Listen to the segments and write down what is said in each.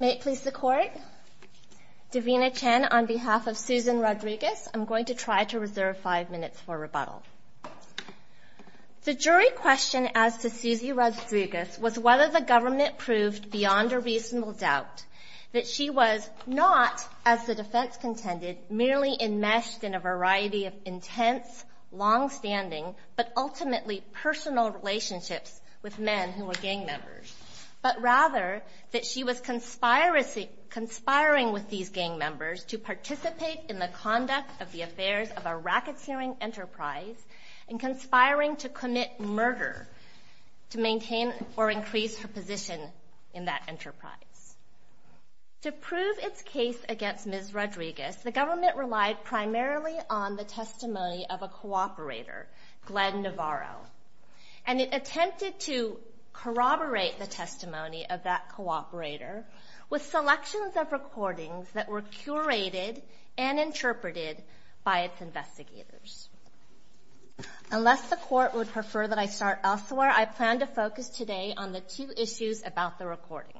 May it please the Court, Davina Chen on behalf of Susan Rodriguez, I'm going to try to reserve five minutes for rebuttal. The jury question as to Susie Rodriguez was whether the government proved beyond a reasonable doubt that she was not, as the defense contended, merely enmeshed in a variety of intense, long-standing, but ultimately personal relationships with men who were gang members, but rather that she was conspiring with these gang members to participate in the conduct of the affairs of a racketeering enterprise and conspiring to commit murder to maintain or increase her position in that enterprise. To prove its case against Ms. Rodriguez, the government relied primarily on the testimony of a cooperator, Glenn Navarro, and it attempted to corroborate the testimony of that cooperator with selections of recordings that were curated and interpreted by its investigators. Unless the Court would prefer that I start elsewhere, I plan to focus today on the two issues about the recordings.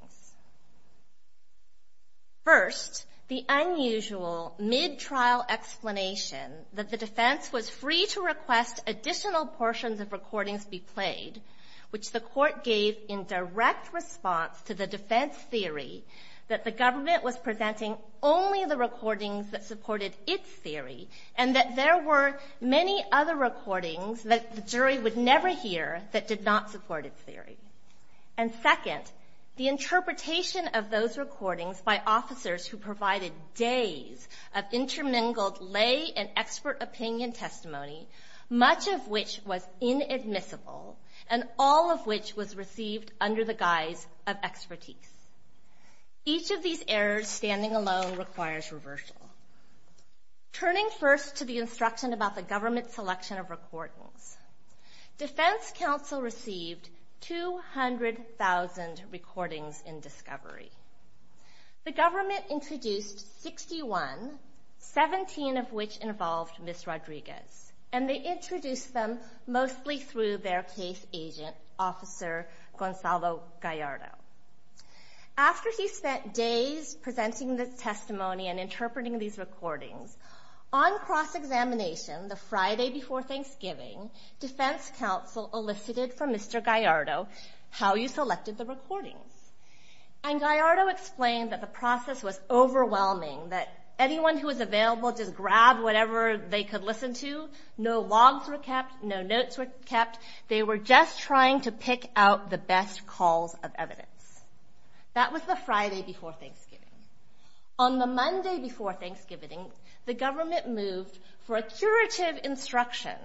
First, the unusual mid-trial explanation that the defense was free to request additional portions of recordings be played, which the Court gave in direct response to the defense theory that the government was presenting only the recordings that supported its theory and that there were many other recordings that the jury would never hear that did not support its theory. And second, the interpretation of those recordings by officers who provided days of intermingled lay and expert opinion testimony, much of which was inadmissible, and all of which was received under the guise of expertise. Each of these errors, standing alone, requires reversal. Turning first to the instruction about the government's selection of recordings, defense counsel received 200,000 recordings in discovery. The government introduced 61, 17 of which involved Ms. Rodriguez, and they introduced them mostly through their case agent, Officer Gonzalo Gallardo. After he spent days presenting the testimony and interpreting these recordings, on cross-examination, the Friday before Thanksgiving, defense counsel elicited from Mr. Gallardo how you selected the recordings. And Gallardo explained that the process was overwhelming, that anyone who was available just grabbed whatever they could listen to. No logs were kept. No notes were kept. They were just trying to pick out the best calls of evidence. That was the Friday before Thanksgiving. On the Monday before Thanksgiving, the government moved for a curative instruction,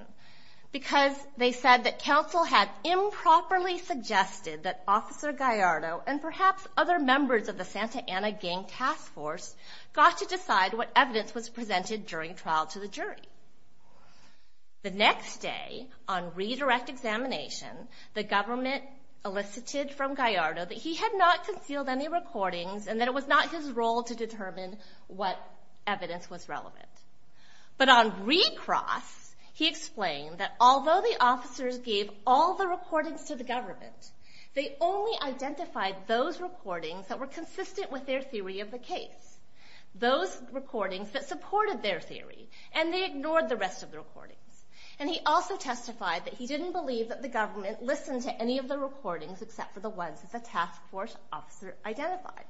because they said that counsel had improperly suggested that Officer Gallardo, and perhaps other members of the Santa Ana Gang Task Force, got to decide what evidence was presented during trial to the jury. The next day, on redirect examination, the government elicited from Gallardo that he had not concealed any of his role to determine what evidence was relevant. But on recross, he explained that although the officers gave all the recordings to the government, they only identified those recordings that were consistent with their theory of the case. Those recordings that supported their theory, and they ignored the rest of the recordings. And he also testified that he didn't believe that the government listened to any of the recordings except for the ones that the Task Force officer identified.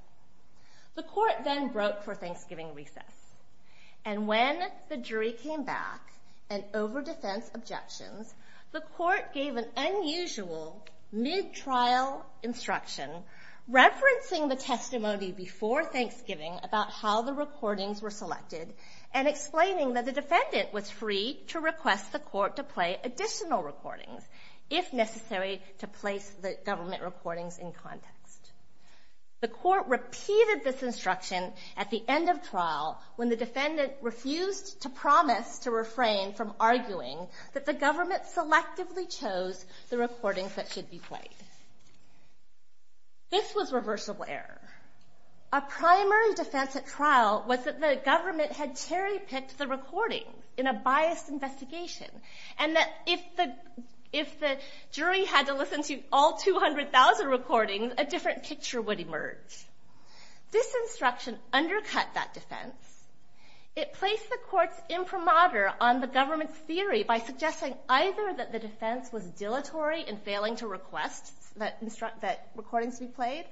The court then broke for Thanksgiving recess. And when the jury came back, and over defense objections, the court gave an unusual mid-trial instruction, referencing the testimony before Thanksgiving about how the recordings were selected, and explaining that the defendant was free to request the court to play additional recordings, if necessary, to place the government recordings in context. The court repeated this instruction at the end of trial, when the defendant refused to promise to refrain from arguing that the government selectively chose the recordings that should be played. This was reversible error. A primary defense at trial was that the government had cherry-picked the recordings in a biased investigation, and that if the jury had to listen to all 200,000 recordings, a different picture would emerge. This instruction undercut that defense. It placed the court's imprimatur on the government's theory by suggesting either that the defense was dilatory in failing to request that recordings be played,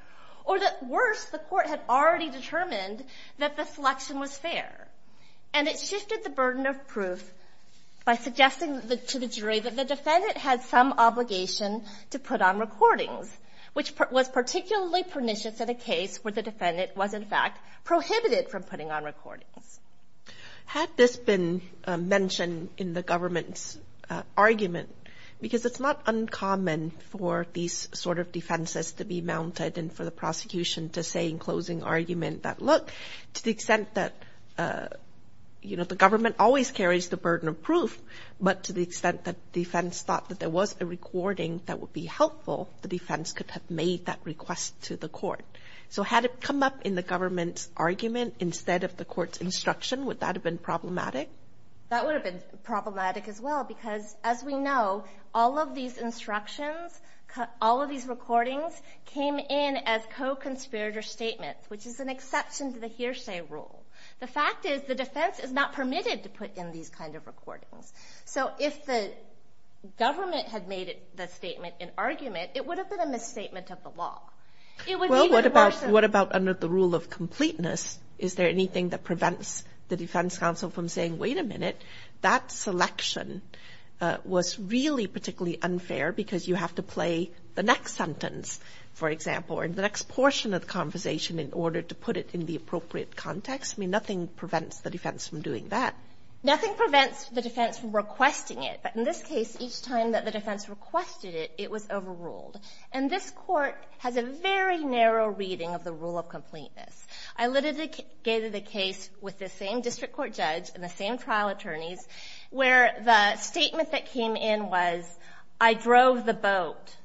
or that worse, the court had already determined that the selection was fair. And it shifted the burden of proof by suggesting to the jury that the defendant had some obligation to put on recordings, which was particularly pernicious in a case where the defendant was, in fact, prohibited from putting on recordings. Had this been mentioned in the government's argument, because it's not uncommon for these sort of defenses to be mounted and for the prosecution to say in closing argument that, look, to the extent that, you know, the government always carries the burden of proof, but to the extent that defense thought that there was a recording that would be helpful, the defense could have made that request to the court. So had it come up in the government's instruction, would that have been problematic? That would have been problematic as well, because as we know, all of these instructions, all of these recordings came in as co-conspirator statements, which is an exception to the hearsay rule. The fact is, the defense is not permitted to put in these kind of recordings. So if the government had made the statement in argument, it would have been a misstatement of the law. Well, what about under the rule of completeness? Is there anything that prevents the defense counsel from saying, wait a minute, that selection was really particularly unfair because you have to play the next sentence, for example, or the next portion of the conversation in order to put it in the appropriate context? I mean, nothing prevents the defense from doing that. Nothing prevents the defense from requesting it. But in this case, each time that the defense requested it, it was overruled. And this Court has a very narrow reading of the rule of completeness. I literally gave you the case with the same district court judge and the same trial attorneys, where the statement that came in was, I drove the boat,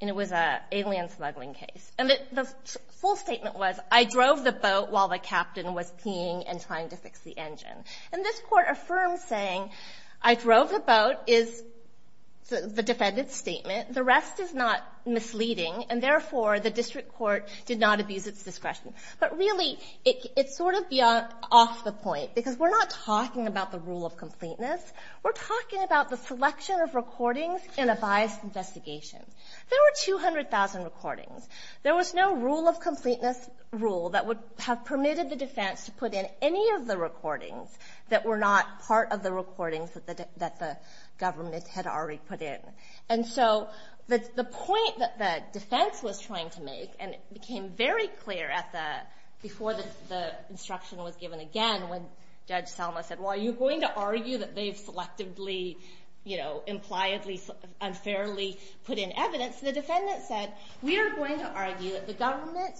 and it was an alien smuggling case. And the full statement was, I drove the boat while the captain was peeing and trying to fix the engine. And this Court affirms saying, I drove the boat is the defendant's statement. The rest is not misleading, and therefore, the district court did not abuse its discretion. But really, it's sort of off the point, because we're not talking about the rule of completeness. We're talking about the selection of recordings in a biased investigation. There were 200,000 recordings. There was no rule of completeness rule that would have permitted the defense to put in any of the recordings that were not part of the recordings that the government had already put in. And so the point that the defense was trying to make, and it became very clear at the — before the instruction was given again, when Judge Selma said, well, are you going to argue that they've selectively, you know, impliedly, unfairly put in evidence, the defendant said, we are going to argue that the government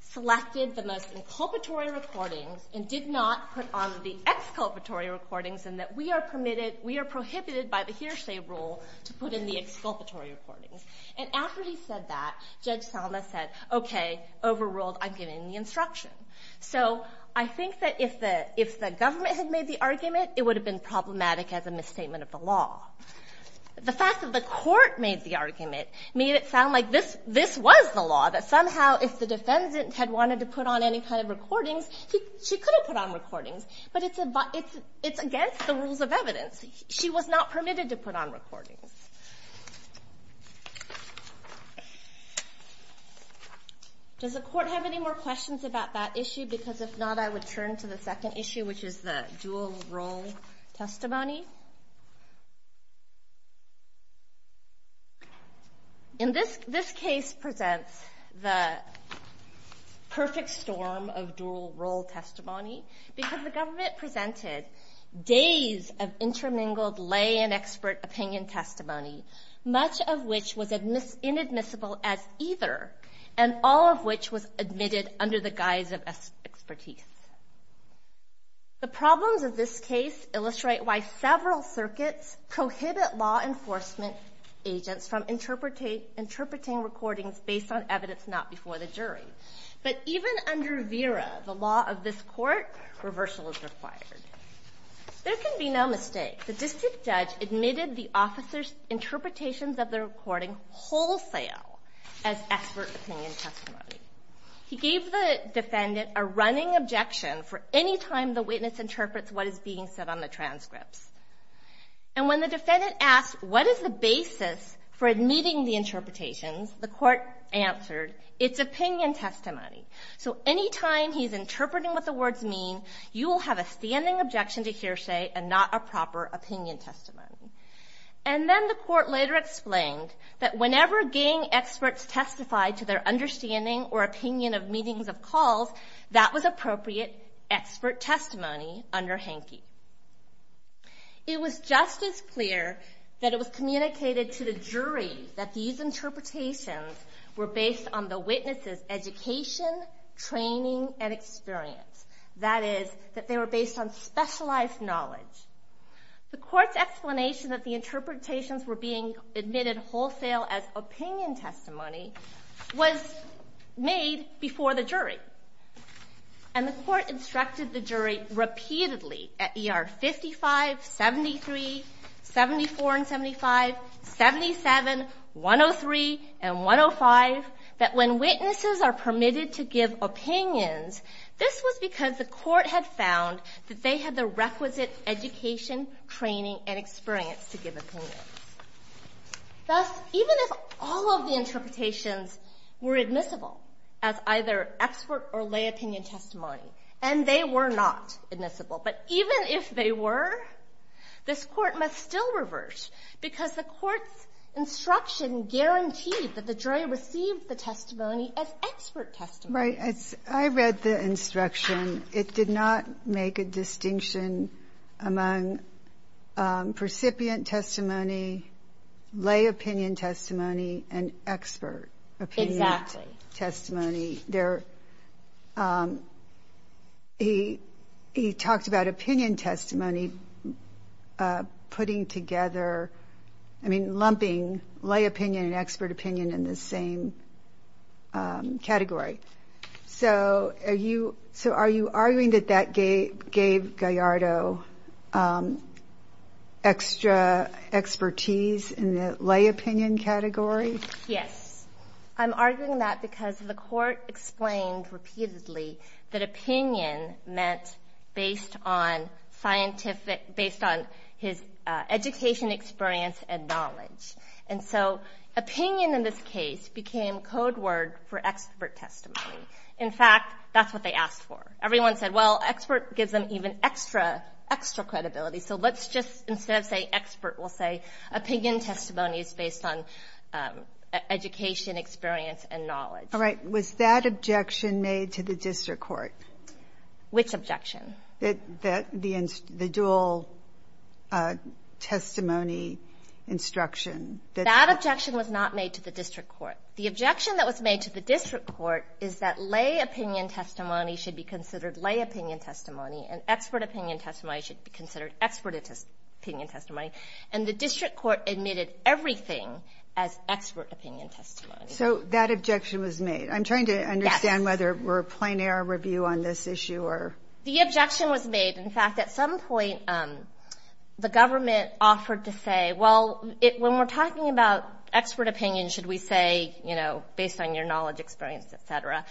selected the most inculpatory recordings and did not put on the exculpatory recordings and that we are prohibited by the hearsay rule to put in the exculpatory recordings. And after he said that, Judge Selma said, okay, overruled, I'm giving the instruction. So I think that if the government had made the argument, it would have been problematic as a misstatement of the law. The fact that the court made the argument made it sound like this was the law, that somehow if the defendant had wanted to put on any kind of recordings, she could have put on recordings. But it's against the rules of evidence. She was not permitted to put on recordings. Does the court have any more questions about that issue? Because if not, I would turn to the second issue, which is the dual role testimony. In this case presents the perfect storm of dual role testimony, because the government presented days of intermingled lay and expert opinion testimony, much of which was inadmissible as either, and all of which was admitted under the guise of expertise. The problems of this case illustrate why several circuits prohibit law enforcement agents from interpreting recordings based on evidence not before the jury. But even under VERA, the law of this court, reversal is required. There can be no mistake. The district judge admitted the officers' interpretations of the recording wholesale as expert opinion testimony. He gave the defendant a running objection for any time the witness interprets what is being said on the transcripts. And when the defendant asked, what is the basis for admitting the interpretations, the court answered, it's opinion testimony. So any time he's interpreting what the words mean, you will have a standing objection to hearsay and not a proper opinion testimony. And then the court later explained that whenever gang experts testified to their understanding or opinion of meetings of calls, that was appropriate expert testimony under Hanke. It was just as clear that it was communicated to the jury that these interpretations were based on the witness's education, training, and experience. That is, that they were based on specialized knowledge. The court's explanation that the interpretations were being admitted wholesale as opinion testimony was made before the jury. And the court instructed the jury repeatedly at ER 55, 73, 74 and 75, 77, 103, and 105, that when witnesses are permitted to give opinions, this was because the court had found that they had the requisite education, training, and experience to give opinions. Thus, even if all of the interpretations were admissible as either expert or lay opinion testimony, and they were not admissible, but even if they were, this Court must still revert, because the Court's instruction guaranteed that the jury received the testimony as expert testimony. Right. I read the instruction. It did not make a distinction among recipient testimony, lay opinion testimony, and expert opinion testimony. Exactly. He talked about opinion testimony putting together, I mean, lumping lay opinion and expert opinion together. So are you arguing that that gave Gallardo extra expertise in the lay opinion category? Yes. I'm arguing that because the court explained repeatedly that opinion meant based on scientific, based on his education, experience, and knowledge. And so opinion in this case became code word for expert testimony. In fact, that's what they asked for. Everyone said, well, expert gives them even extra, extra credibility, so let's just, instead of say expert, we'll say opinion testimony is based on education, experience, and knowledge. All right. Was that objection made to the district court? Which objection? The dual testimony instruction. That objection was not made to the district court. The objection that was made to the district court is that lay opinion testimony should be considered lay opinion testimony, and expert opinion testimony should be considered expert opinion testimony. And the district court admitted everything as expert opinion testimony. So that objection was made. Yes. I'm trying to understand whether we're playing our review on this issue. The objection was made. In fact, at some point, the government offered to say, well, when we're talking about expert opinion, should we say, you know, based on your knowledge, experience, et cetera?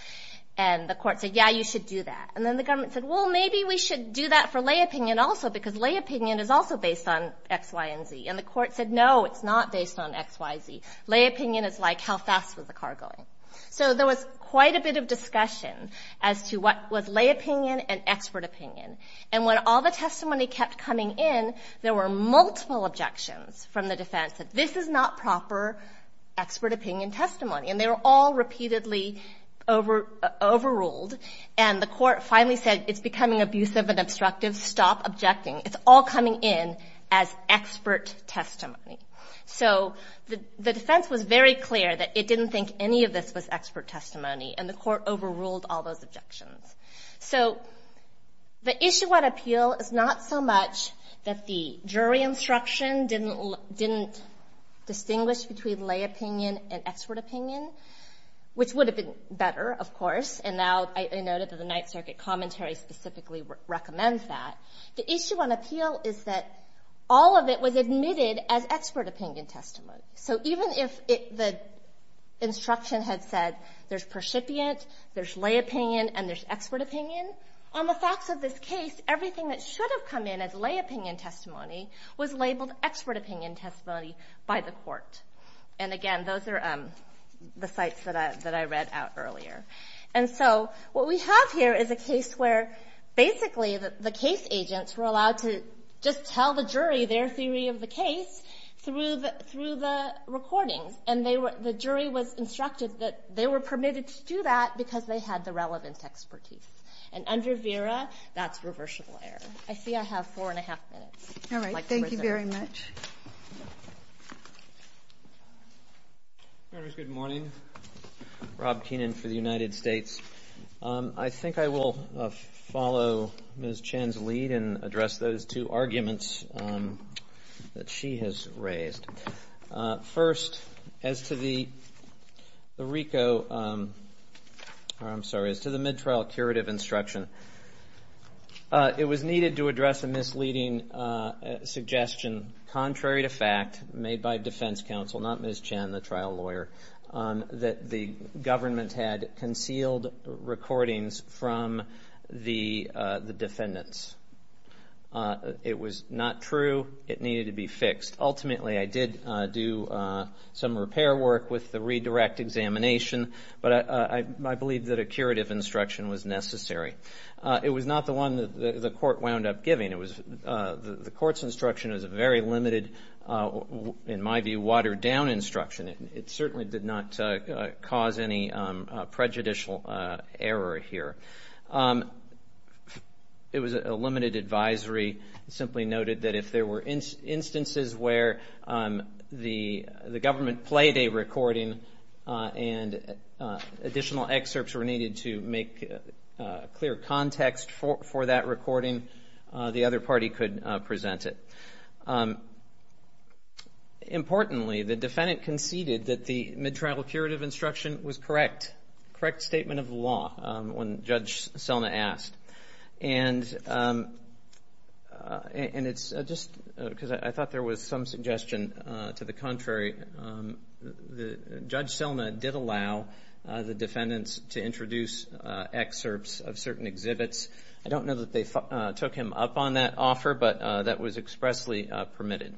And the court said, yeah, you should do that. And then the government said, well, maybe we should do that for lay opinion also, because lay opinion is also based on X, Y, and Z. And the court said, no, it's not based on X, Y, Z. Lay opinion is like how fast was the car going. So there was quite a bit of discussion as to what was lay opinion and expert opinion. And when all the testimony kept coming in, there were multiple objections from the defense that this is not proper expert opinion testimony. And they were all repeatedly overruled. And the court finally said, it's becoming abusive and obstructive. Stop objecting. It's all coming in as expert testimony. So the defense was very clear that it didn't think any of this was expert testimony. And the court overruled all those objections. So the issue at appeal is not so much that the jury instruction didn't distinguish between lay opinion and expert opinion, which would have been better, of course. And now I noted that the Ninth Circuit commentary specifically recommends that. The issue on appeal is that all of it was admitted as expert opinion testimony. So even if the instruction had said there's percipient, there's lay opinion, and there's expert opinion, on the facts of this case, everything that should have come in as lay opinion testimony was labeled expert opinion testimony by the court. And again, those are the sites that I read out earlier. And so what we have here is a case where basically the case agents were allowed to just tell the jury their theory of the case through the recordings. And the jury was instructed that they were permitted to do that because they had the relevant expertise. And under VERA, that's reversible error. I see I have four and a half minutes. All right. Thank you very much. Good morning. Rob Keenan for the United States. I think I will follow Ms. Chan's lead and address those two arguments that she has raised. First, as to the RICO or I'm sorry, as to the mid-trial curative instruction, it was needed to address a misleading suggestion, contrary to fact, made by defense counsel, not Ms. Chan, the trial lawyer, that the government had concealed recordings from the defendants. It was not true. It needed to be fixed. Ultimately, I did do some repair work with the redirect examination, but I believe that a curative instruction was necessary. It was not the one that the court wound up giving. It was the court's instruction was a very limited, in my view, watered down instruction. It certainly did not cause any prejudicial error here. It was a limited advisory. It simply noted that if there were instances where the government played a recording and additional excerpts were needed to make clear context for that recording, the other party could present it. Importantly, the defendant conceded that the mid-trial curative instruction was correct, correct statement of law, when Judge Selna asked. And it's just because I thought there was some suggestion to the contrary. Judge Selna did allow the defendants to introduce excerpts of certain exhibits. I don't know that they took him up on that offer, but that was expressly permitted.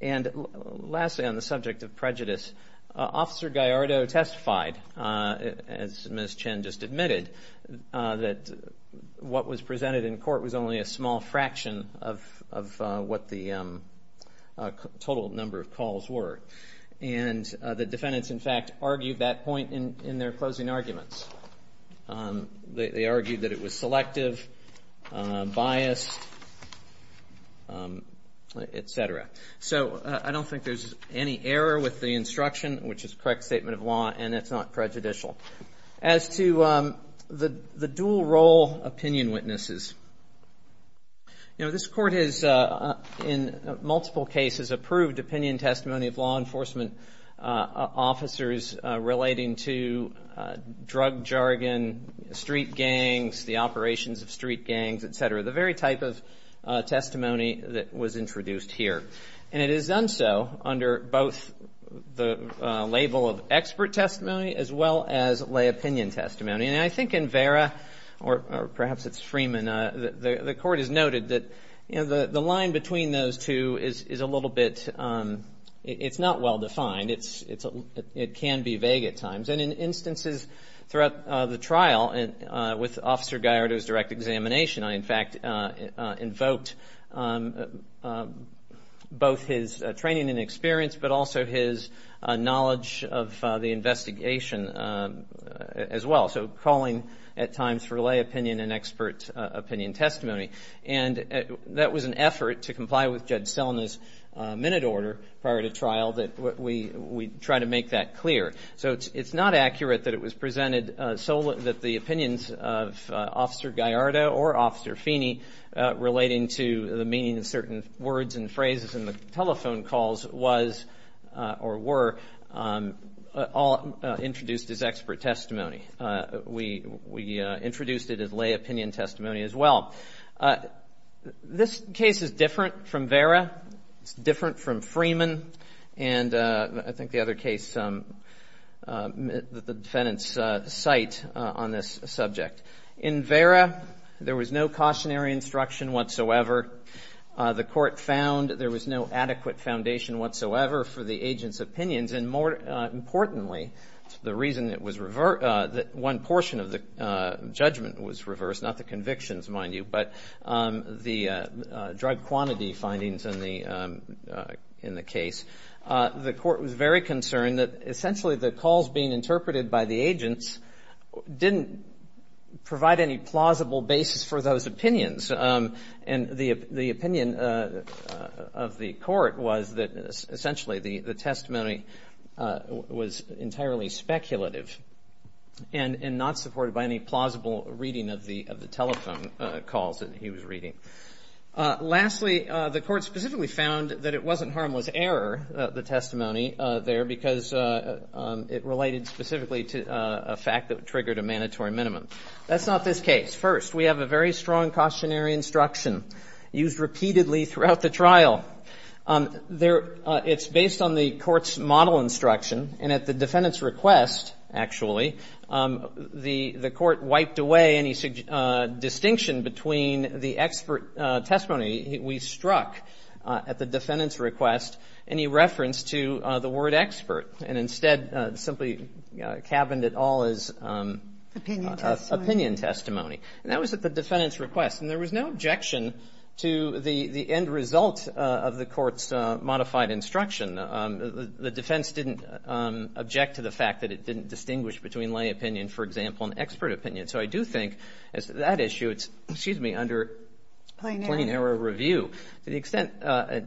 And lastly, on the subject of prejudice, Officer Gallardo testified, as Ms. Chan just admitted, that what was presented in court was only a small fraction of what the total number of calls were. And the defendants, in fact, argued that point in their closing arguments. They argued that it was selective, biased, etc. So I don't think there's any error with the instruction, which is correct statement of law, and it's not prejudicial. As to the dual role opinion witnesses, you know, this Court has, in multiple cases, approved opinion testimony of law enforcement officers relating to drug jargon, street gangs, the operations of street gangs, etc., the very type of testimony that was introduced here. And it is done so under both the label of expert testimony, as well as lay opinion testimony. And I think in Vera, or perhaps it's Freeman, the Court has noted that the line between those two is a little bit, it's not well defined, it can be vague at times. And in instances throughout the trial, with Officer Gallardo's direct examination, I, in fact, invoked both his training and experience, but also his knowledge of the investigation as well. So calling at times for lay opinion and expert opinion testimony. And that was an effort to comply with Judge Selna's minute order prior to trial, that we try to make that clear. So it's not accurate that it was presented so that the opinions of Officer Gallardo or Officer Feeney relating to the meaning of certain words and phrases in the telephone calls was, or were, all introduced as expert testimony. We introduced it as lay opinion testimony as well. This case is different from Vera. It's different from Freeman. And I think the other case, the defendant's site on this subject. In Vera, there was no cautionary instruction whatsoever. The Court found there was no adequate foundation whatsoever for the agent's opinions. And more importantly, the reason that one portion of the judgment was reversed, not the convictions, mind you, but the drug quantity findings in the case. The Court was very concerned that essentially the calls being interpreted by the agents didn't provide any plausible basis for those opinions. And the opinion of the Court was that essentially the testimony was entirely speculative and not supported by any plausible reading of the telephone calls that he was reading. Lastly, the Court specifically found that it wasn't harmless error, the testimony there, because it related specifically to a fact that triggered a mandatory minimum. That's not this case. First, we have a very strong cautionary instruction used repeatedly throughout the trial. It's based on the Court's model instruction, and at the defendant's request, actually, the Court wiped away any distinction between the expert testimony we struck at the defendant's request to the word expert, and instead simply cabined it all as opinion testimony. And that was at the defendant's request, and there was no objection to the end result of the Court's modified instruction. The defense didn't object to the fact that it didn't distinguish between lay opinion, for example, and expert opinion. So I do think that issue, it's, excuse me, under plain error review. To the extent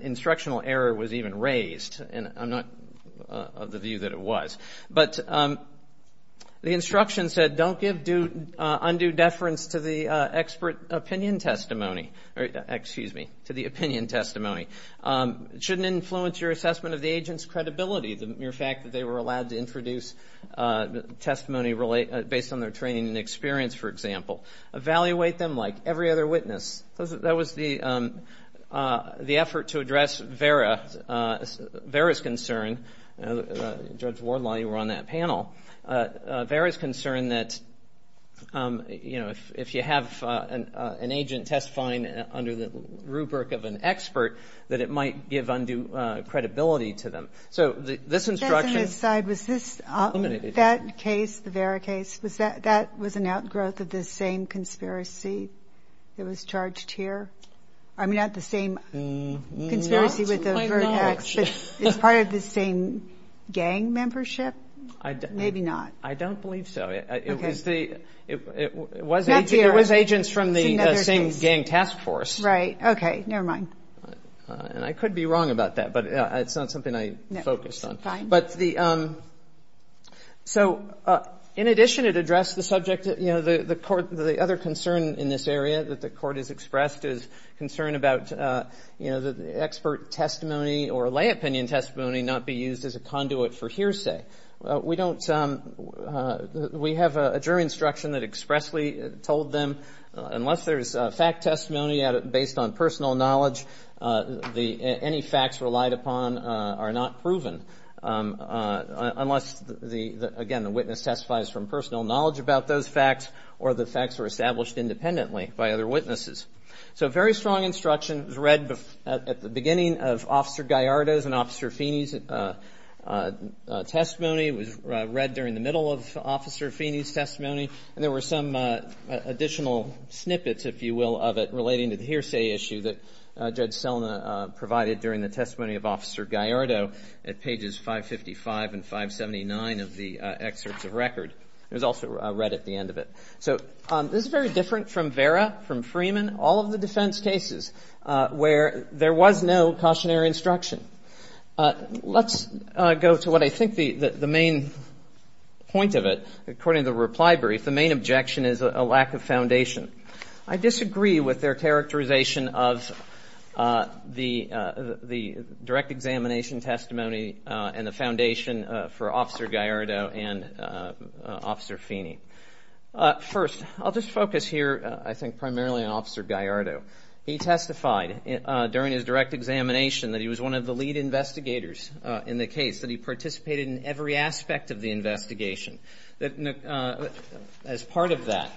instructional error was even raised, and I'm not of the view that it was. But the instruction said don't give undue deference to the expert opinion testimony, excuse me, to the opinion testimony. Shouldn't influence your assessment of the agent's credibility, the mere fact that they were allowed to introduce testimony based on their training and experience, for example. Evaluate them like every other witness. That was the effort to address Vera's concern. Judge Wardlaw, you were on that panel. Vera's concern that, you know, if you have an agent testifying under the rubric of an expert, that it might give undue credibility to them. So this instruction. I was going to say, was this, that case, the Vera case, was that, that was an outgrowth of the same conspiracy that was charged here? I mean, not the same conspiracy with the Vertex. It's part of the same gang membership? Maybe not. I don't believe so. Okay. It was the, it was agents from the same gang task force. Right. Okay. Never mind. And I could be wrong about that, but it's not something I focused on. Okay. But the, so in addition, it addressed the subject, you know, the court, the other concern in this area that the court has expressed is concern about, you know, the expert testimony or lay opinion testimony not be used as a conduit for hearsay. We don't, we have a jury instruction that expressly told them, unless there's fact testimony based on personal knowledge, the, any facts relied upon are not proven. Unless the, again, the witness testifies from personal knowledge about those facts or the facts were established independently by other witnesses. So very strong instruction was read at the beginning of Officer Gallardo's and Officer Feeney's testimony. It was read during the middle of Officer Feeney's testimony, and there were some additional snippets, if you will, of it relating to the hearsay issue that Judge Feeney referred to in pages 555 and 579 of the excerpts of record. It was also read at the end of it. So this is very different from Vera, from Freeman, all of the defense cases where there was no cautionary instruction. Let's go to what I think the main point of it. According to the reply brief, the main objection is a lack of foundation. I disagree with their characterization of the direct examination testimony and the foundation for Officer Gallardo and Officer Feeney. First, I'll just focus here, I think, primarily on Officer Gallardo. He testified during his direct examination that he was one of the lead investigators in the case, that he participated in every aspect of the investigation. As part of that,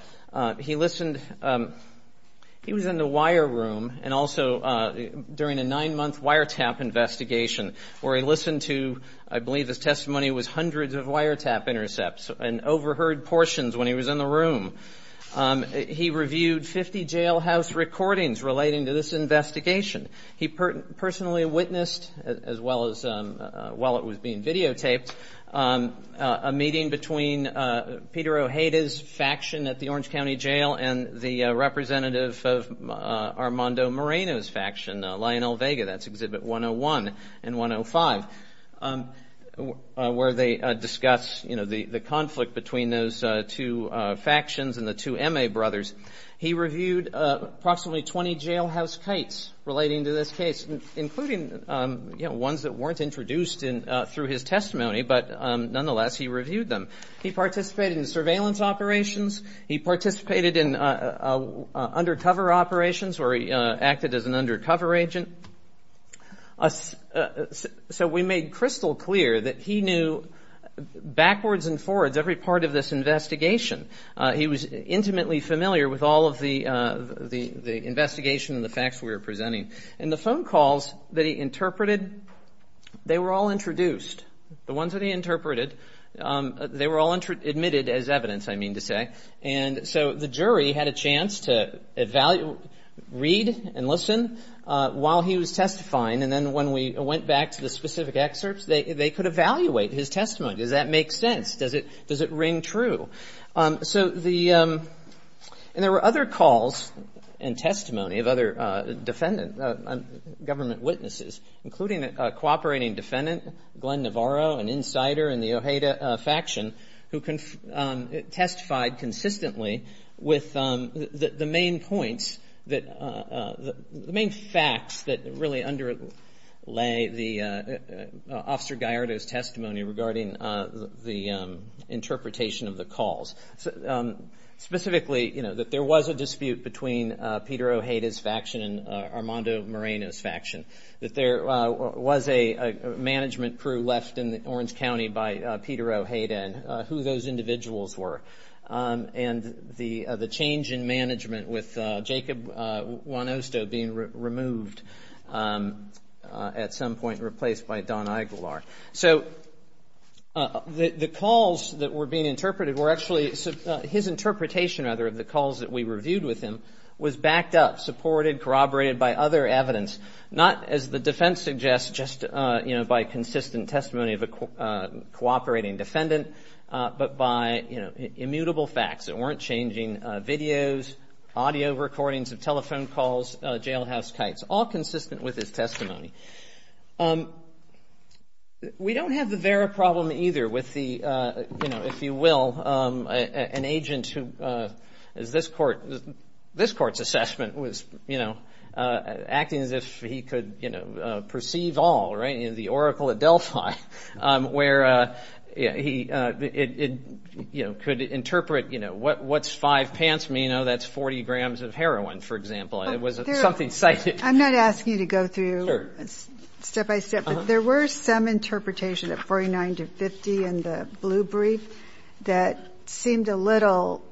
he listened, he was in the wire room and also during a nine-month wiretap investigation where he listened to, I believe his testimony was hundreds of wiretap intercepts and overheard portions when he was in the room. He reviewed 50 jailhouse recordings relating to this investigation. He personally witnessed, as well as while it was being videotaped, a meeting between Peter Ojeda's faction at the Orange County Jail and the representative of Armando Moreno's faction, Lionel Vega, that's Exhibit 101 and 105, where they discuss the conflict between those two factions and the two M.A. brothers. He reviewed approximately 20 jailhouse cites relating to this case, including ones that weren't introduced through his testimony, but nonetheless he reviewed them. He participated in surveillance operations. He participated in undercover operations where he acted as an undercover agent. So we made crystal clear that he knew backwards and forwards every part of this investigation. He was intimately familiar with all of the investigation and the facts we were presenting. And the phone calls that he interpreted, they were all introduced. The ones that he interpreted, they were all admitted as evidence, I mean to say. And so the jury had a chance to read and listen while he was testifying. And then when we went back to the specific excerpts, they could evaluate his testimony. Does that make sense? Does it ring true? And there were other calls and testimony of other defendant government witnesses, including a cooperating defendant, Glenn Navarro, an insider in the Ojeda faction, who testified consistently with the main points, the main facts that really underlay Officer Gallardo's testimony regarding the interpretation of the calls. Specifically, that there was a dispute between Peter Ojeda's faction and Armando Moreno's faction, that there was a management crew left in Orange County by Peter Ojeda and who those individuals were, and the change in management with Jacob Juanosto being removed at some point and replaced by Don Igular. So the calls that were being interpreted were actually his interpretation, rather, of the calls that we reviewed with him was backed up, supported, corroborated by other evidence, not, as the defense suggests, just by consistent testimony of a cooperating defendant, but by immutable facts that weren't changing, videos, audio recordings of telephone calls, jailhouse kites, all consistent with his testimony. We don't have the Vera problem either with the, if you will, an agent who, as this Court's assessment, was acting as if he could perceive all, right, in the Oracle of Delphi, where he could interpret, you know, what's five pants mean? Oh, that's 40 grams of heroin, for example. It was something cited. I'm not asking you to go through step by step, but there were some interpretations at 49 to 50 in the Blue Brief that seemed a little,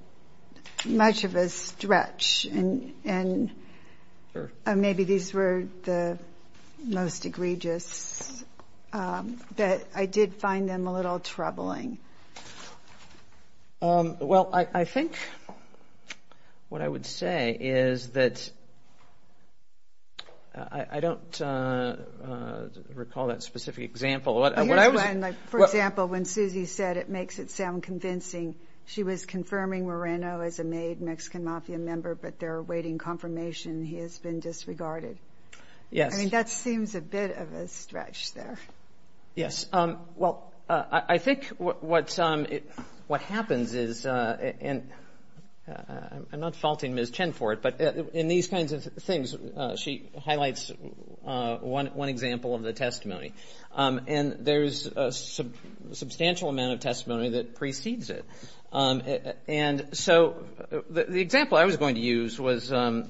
much of a stretch, and maybe these were the most egregious, but I did find them a little troubling. Well, I think what I would say is that I don't recall that specific example. For example, when Susie said it makes it sound convincing, she was confirming Moreno as a made Mexican Mafia member, but their awaiting confirmation, he has been disregarded. Yes. I mean, that seems a bit of a stretch there. Yes. Well, I think what happens is, and I'm not faulting Ms. Chen for it, but in these kinds of things, she highlights one example of the testimony. And there's a substantial amount of testimony that precedes it. And so the example I was going to use was there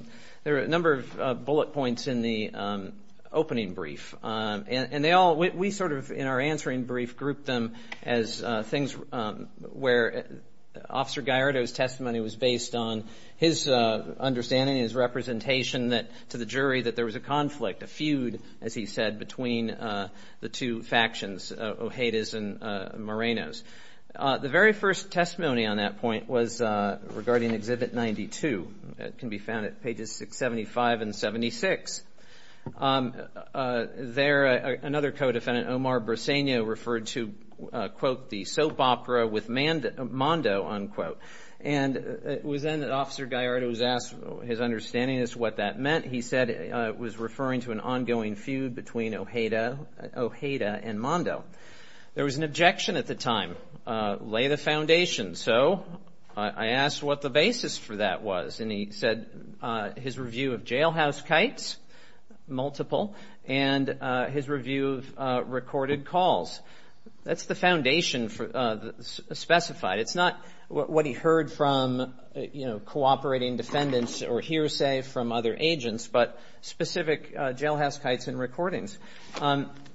were a number of bullet points in the opening brief, and they all, we sort of, in our answering brief, grouped them as things where Officer Gallardo's testimony was based on his understanding, his representation to the jury that there was a conflict, a feud, as he said, between the two factions, Ojeda's and Moreno's. The very first testimony on that point was regarding Exhibit 92. It can be found at pages 675 and 76. There, another co-defendant, Omar Briseño, referred to, quote, the soap opera with Mondo, unquote. And it was then that Officer Gallardo was asked his understanding as to what that meant. He said it was referring to an ongoing feud between Ojeda and Mondo. There was an objection at the time, lay the foundation. So I asked what the basis for that was, and he said his review of jailhouse kites, multiple, and his review of recorded calls. That's the foundation specified. It's not what he heard from, you know, cooperating defendants or hearsay from other agents, but specific jailhouse kites and recordings.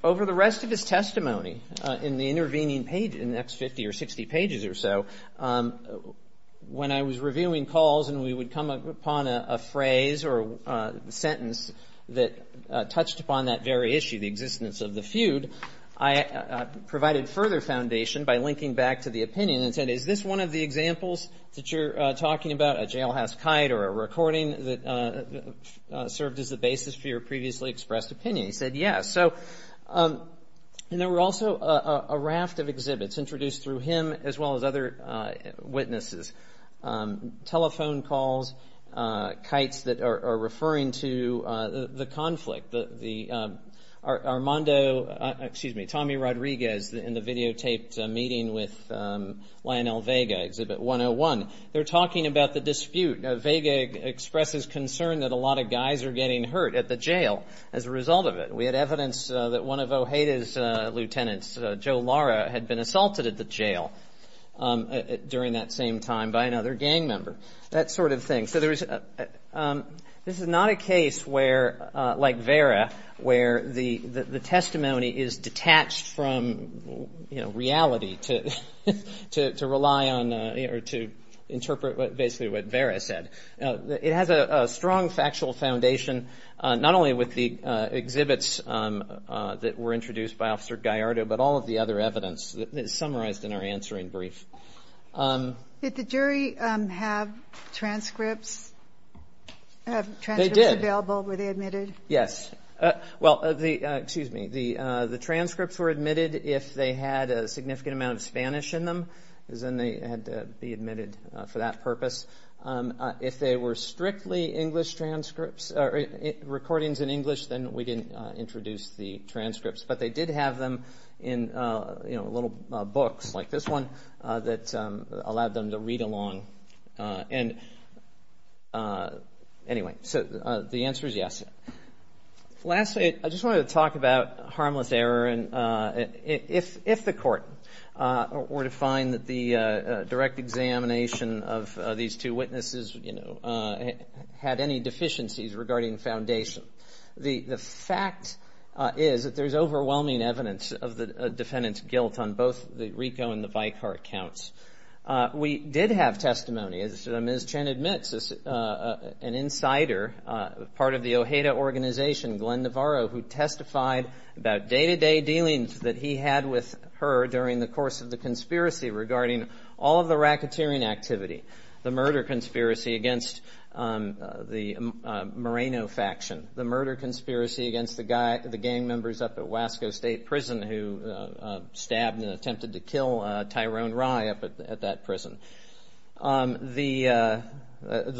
Over the rest of his testimony, in the intervening page, in the next 50 or 60 pages or so, when I was reviewing calls and we would come upon a phrase or a sentence that touched upon that very issue, the existence of the feud, I provided further foundation by linking back to the opinion and said, is this one of the examples that you're talking about, a jailhouse kite or a recording that served as the basis for your previously expressed opinion? He said yes. And there were also a raft of exhibits introduced through him as well as other witnesses, telephone calls, kites that are referring to the conflict, Armando, excuse me, Tommy Rodriguez in the videotaped meeting with Lionel Vega, Exhibit 101. They're talking about the dispute. Vega expresses concern that a lot of guys are getting hurt at the jail as a result of it. We had evidence that one of Ojeda's lieutenants, Joe Lara, had been assaulted at the jail during that same time by another gang member, that sort of thing. So this is not a case where, like Vera, where the testimony is detached from reality to rely on or to interpret basically what Vera said. It has a strong factual foundation, not only with the exhibits that were introduced by Officer Gallardo, but all of the other evidence summarized in our answering brief. Did the jury have transcripts available? They did. Were they admitted? Yes. Well, excuse me, the transcripts were admitted if they had a significant amount of Spanish in them, because then they had to be admitted for that purpose. If they were strictly recordings in English, then we didn't introduce the transcripts. But they did have them in, you know, little books like this one that allowed them to read along. And anyway, so the answer is yes. Lastly, I just wanted to talk about harmless error. If the court were to find that the direct examination of these two witnesses, you know, had any deficiencies regarding foundation, the fact is that there's overwhelming evidence of the defendant's guilt on both the RICO and the Vicar accounts. We did have testimony, as Ms. Chen admits, an insider, part of the OJEDA organization, Glenn Navarro, who testified about day-to-day dealings that he had with her during the course of the conspiracy regarding all of the racketeering activity, the murder conspiracy against the Moreno faction, the murder conspiracy against the gang members up at Wasco State Prison who stabbed and attempted to kill Tyrone Rye up at that prison, the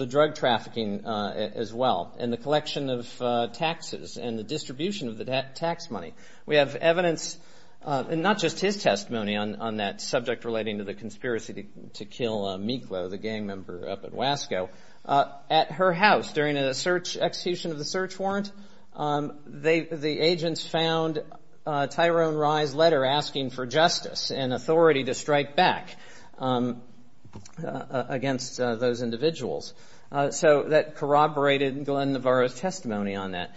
drug trafficking as well, and the collection of taxes and the distribution of the tax money. We have evidence, and not just his testimony on that subject relating to the conspiracy to kill Miklo, the gang member up at Wasco, at her house during an execution of the search warrant. The agents found Tyrone Rye's letter asking for justice and authority to strike back against those individuals. So that corroborated Glenn Navarro's testimony on that.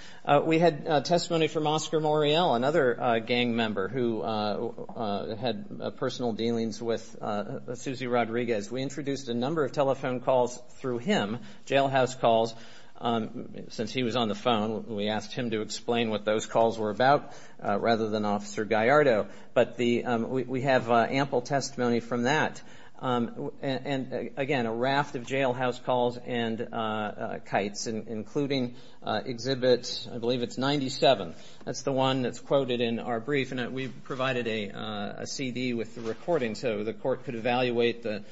We had testimony from Oscar Moriel, another gang member who had personal dealings with Suzy Rodriguez. We introduced a number of telephone calls through him, jailhouse calls. Since he was on the phone, we asked him to explain what those calls were about rather than Officer Gallardo. But we have ample testimony from that. And, again, a raft of jailhouse calls and kites, including Exhibit, I believe it's 97. That's the one that's quoted in our brief. And we provided a CD with the recording so the court could evaluate the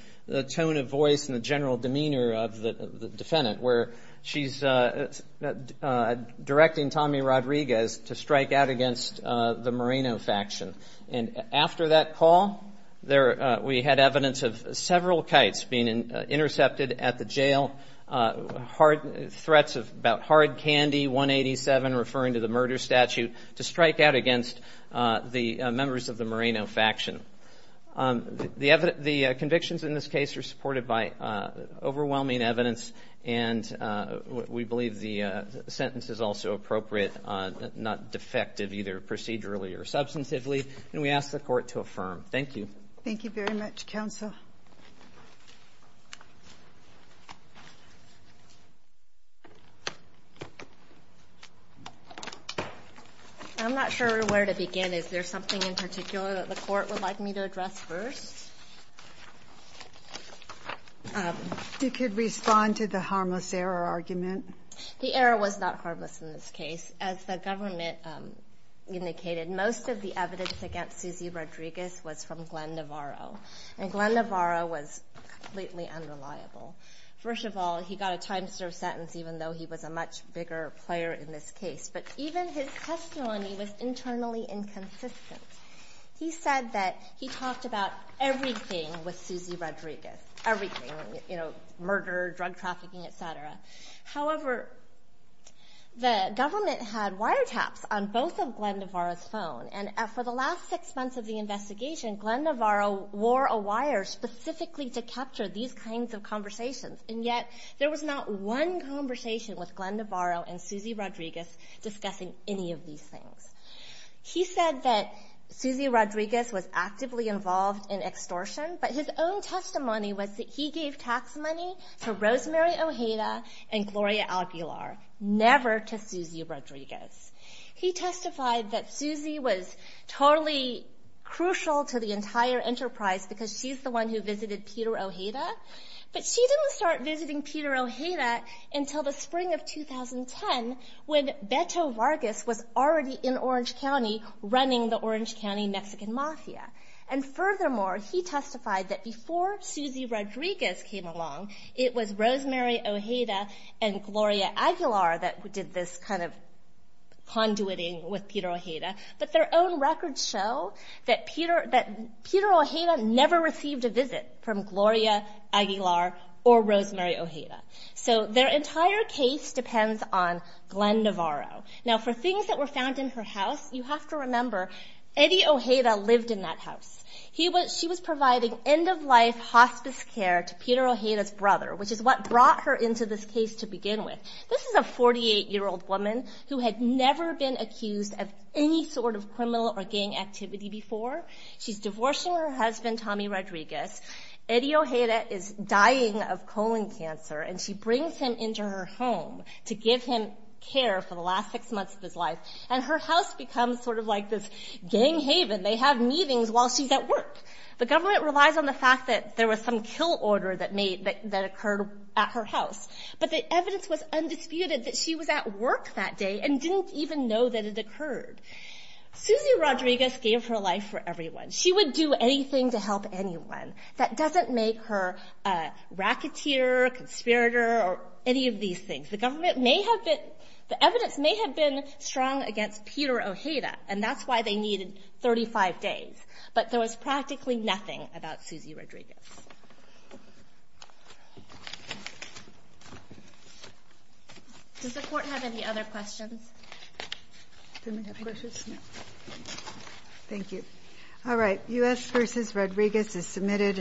tone of voice and the general demeanor of the defendant, where she's directing Tommy Rodriguez to strike out against the Moreno faction. And after that call, we had evidence of several kites being intercepted at the jail, threats about hard candy, 187, referring to the murder statute, to strike out against the members of the Moreno faction. The convictions in this case are supported by overwhelming evidence, and we believe the sentence is also appropriate, not defective, either procedurally or substantively. And we ask the court to affirm. Thank you. Thank you very much, counsel. I'm not sure where to begin. Is there something in particular that the court would like me to address first? You could respond to the harmless error argument. The error was not harmless in this case. As the government indicated, most of the evidence against Suzy Rodriguez was from Glenn Navarro, and Glenn Navarro was completely unreliable. First of all, he got a time-serve sentence, even though he was a much bigger player in this case. But even his testimony was internally inconsistent. He said that he talked about everything with Suzy Rodriguez, everything, you know, murder, drug trafficking, et cetera. However, the government had wiretaps on both of Glenn Navarro's phones, and for the last six months of the investigation, Glenn Navarro wore a wire specifically to capture these kinds of conversations, and yet there was not one conversation with Glenn Navarro and Suzy Rodriguez discussing any of these things. He said that Suzy Rodriguez was actively involved in extortion, but his own testimony was that he gave tax money to Rosemary Ojeda and Gloria Aguilar, never to Suzy Rodriguez. He testified that Suzy was totally crucial to the entire enterprise because she's the one who visited Peter Ojeda, but she didn't start visiting Peter Ojeda until the spring of 2010, when Beto Vargas was already in Orange County running the Orange County Mexican Mafia. And furthermore, he testified that before Suzy Rodriguez came along, it was Rosemary Ojeda and Gloria Aguilar that did this kind of conduiting with Peter Ojeda, but their own records show that Peter Ojeda never received a visit from Gloria Aguilar or Rosemary Ojeda. So their entire case depends on Glenn Navarro. Now, for things that were found in her house, you have to remember, Eddie Ojeda lived in that house. She was providing end-of-life hospice care to Peter Ojeda's brother, which is what brought her into this case to begin with. This is a 48-year-old woman who had never been accused of any sort of criminal or gang activity before. She's divorcing her husband, Tommy Rodriguez. Eddie Ojeda is dying of colon cancer, and she brings him into her home to give him care for the last six months of his life, and her house becomes sort of like this gang haven. They have meetings while she's at work. The government relies on the fact that there was some kill order that occurred at her house, but the evidence was undisputed that she was at work that day and didn't even know that it occurred. Suzy Rodriguez gave her life for everyone. She would do anything to help anyone. That doesn't make her a racketeer, a conspirator, or any of these things. The government may have been the evidence may have been strong against Peter Ojeda, and that's why they needed 35 days, but there was practically nothing about Suzy Rodriguez. Does the Court have any other questions? Do we have questions? Thank you.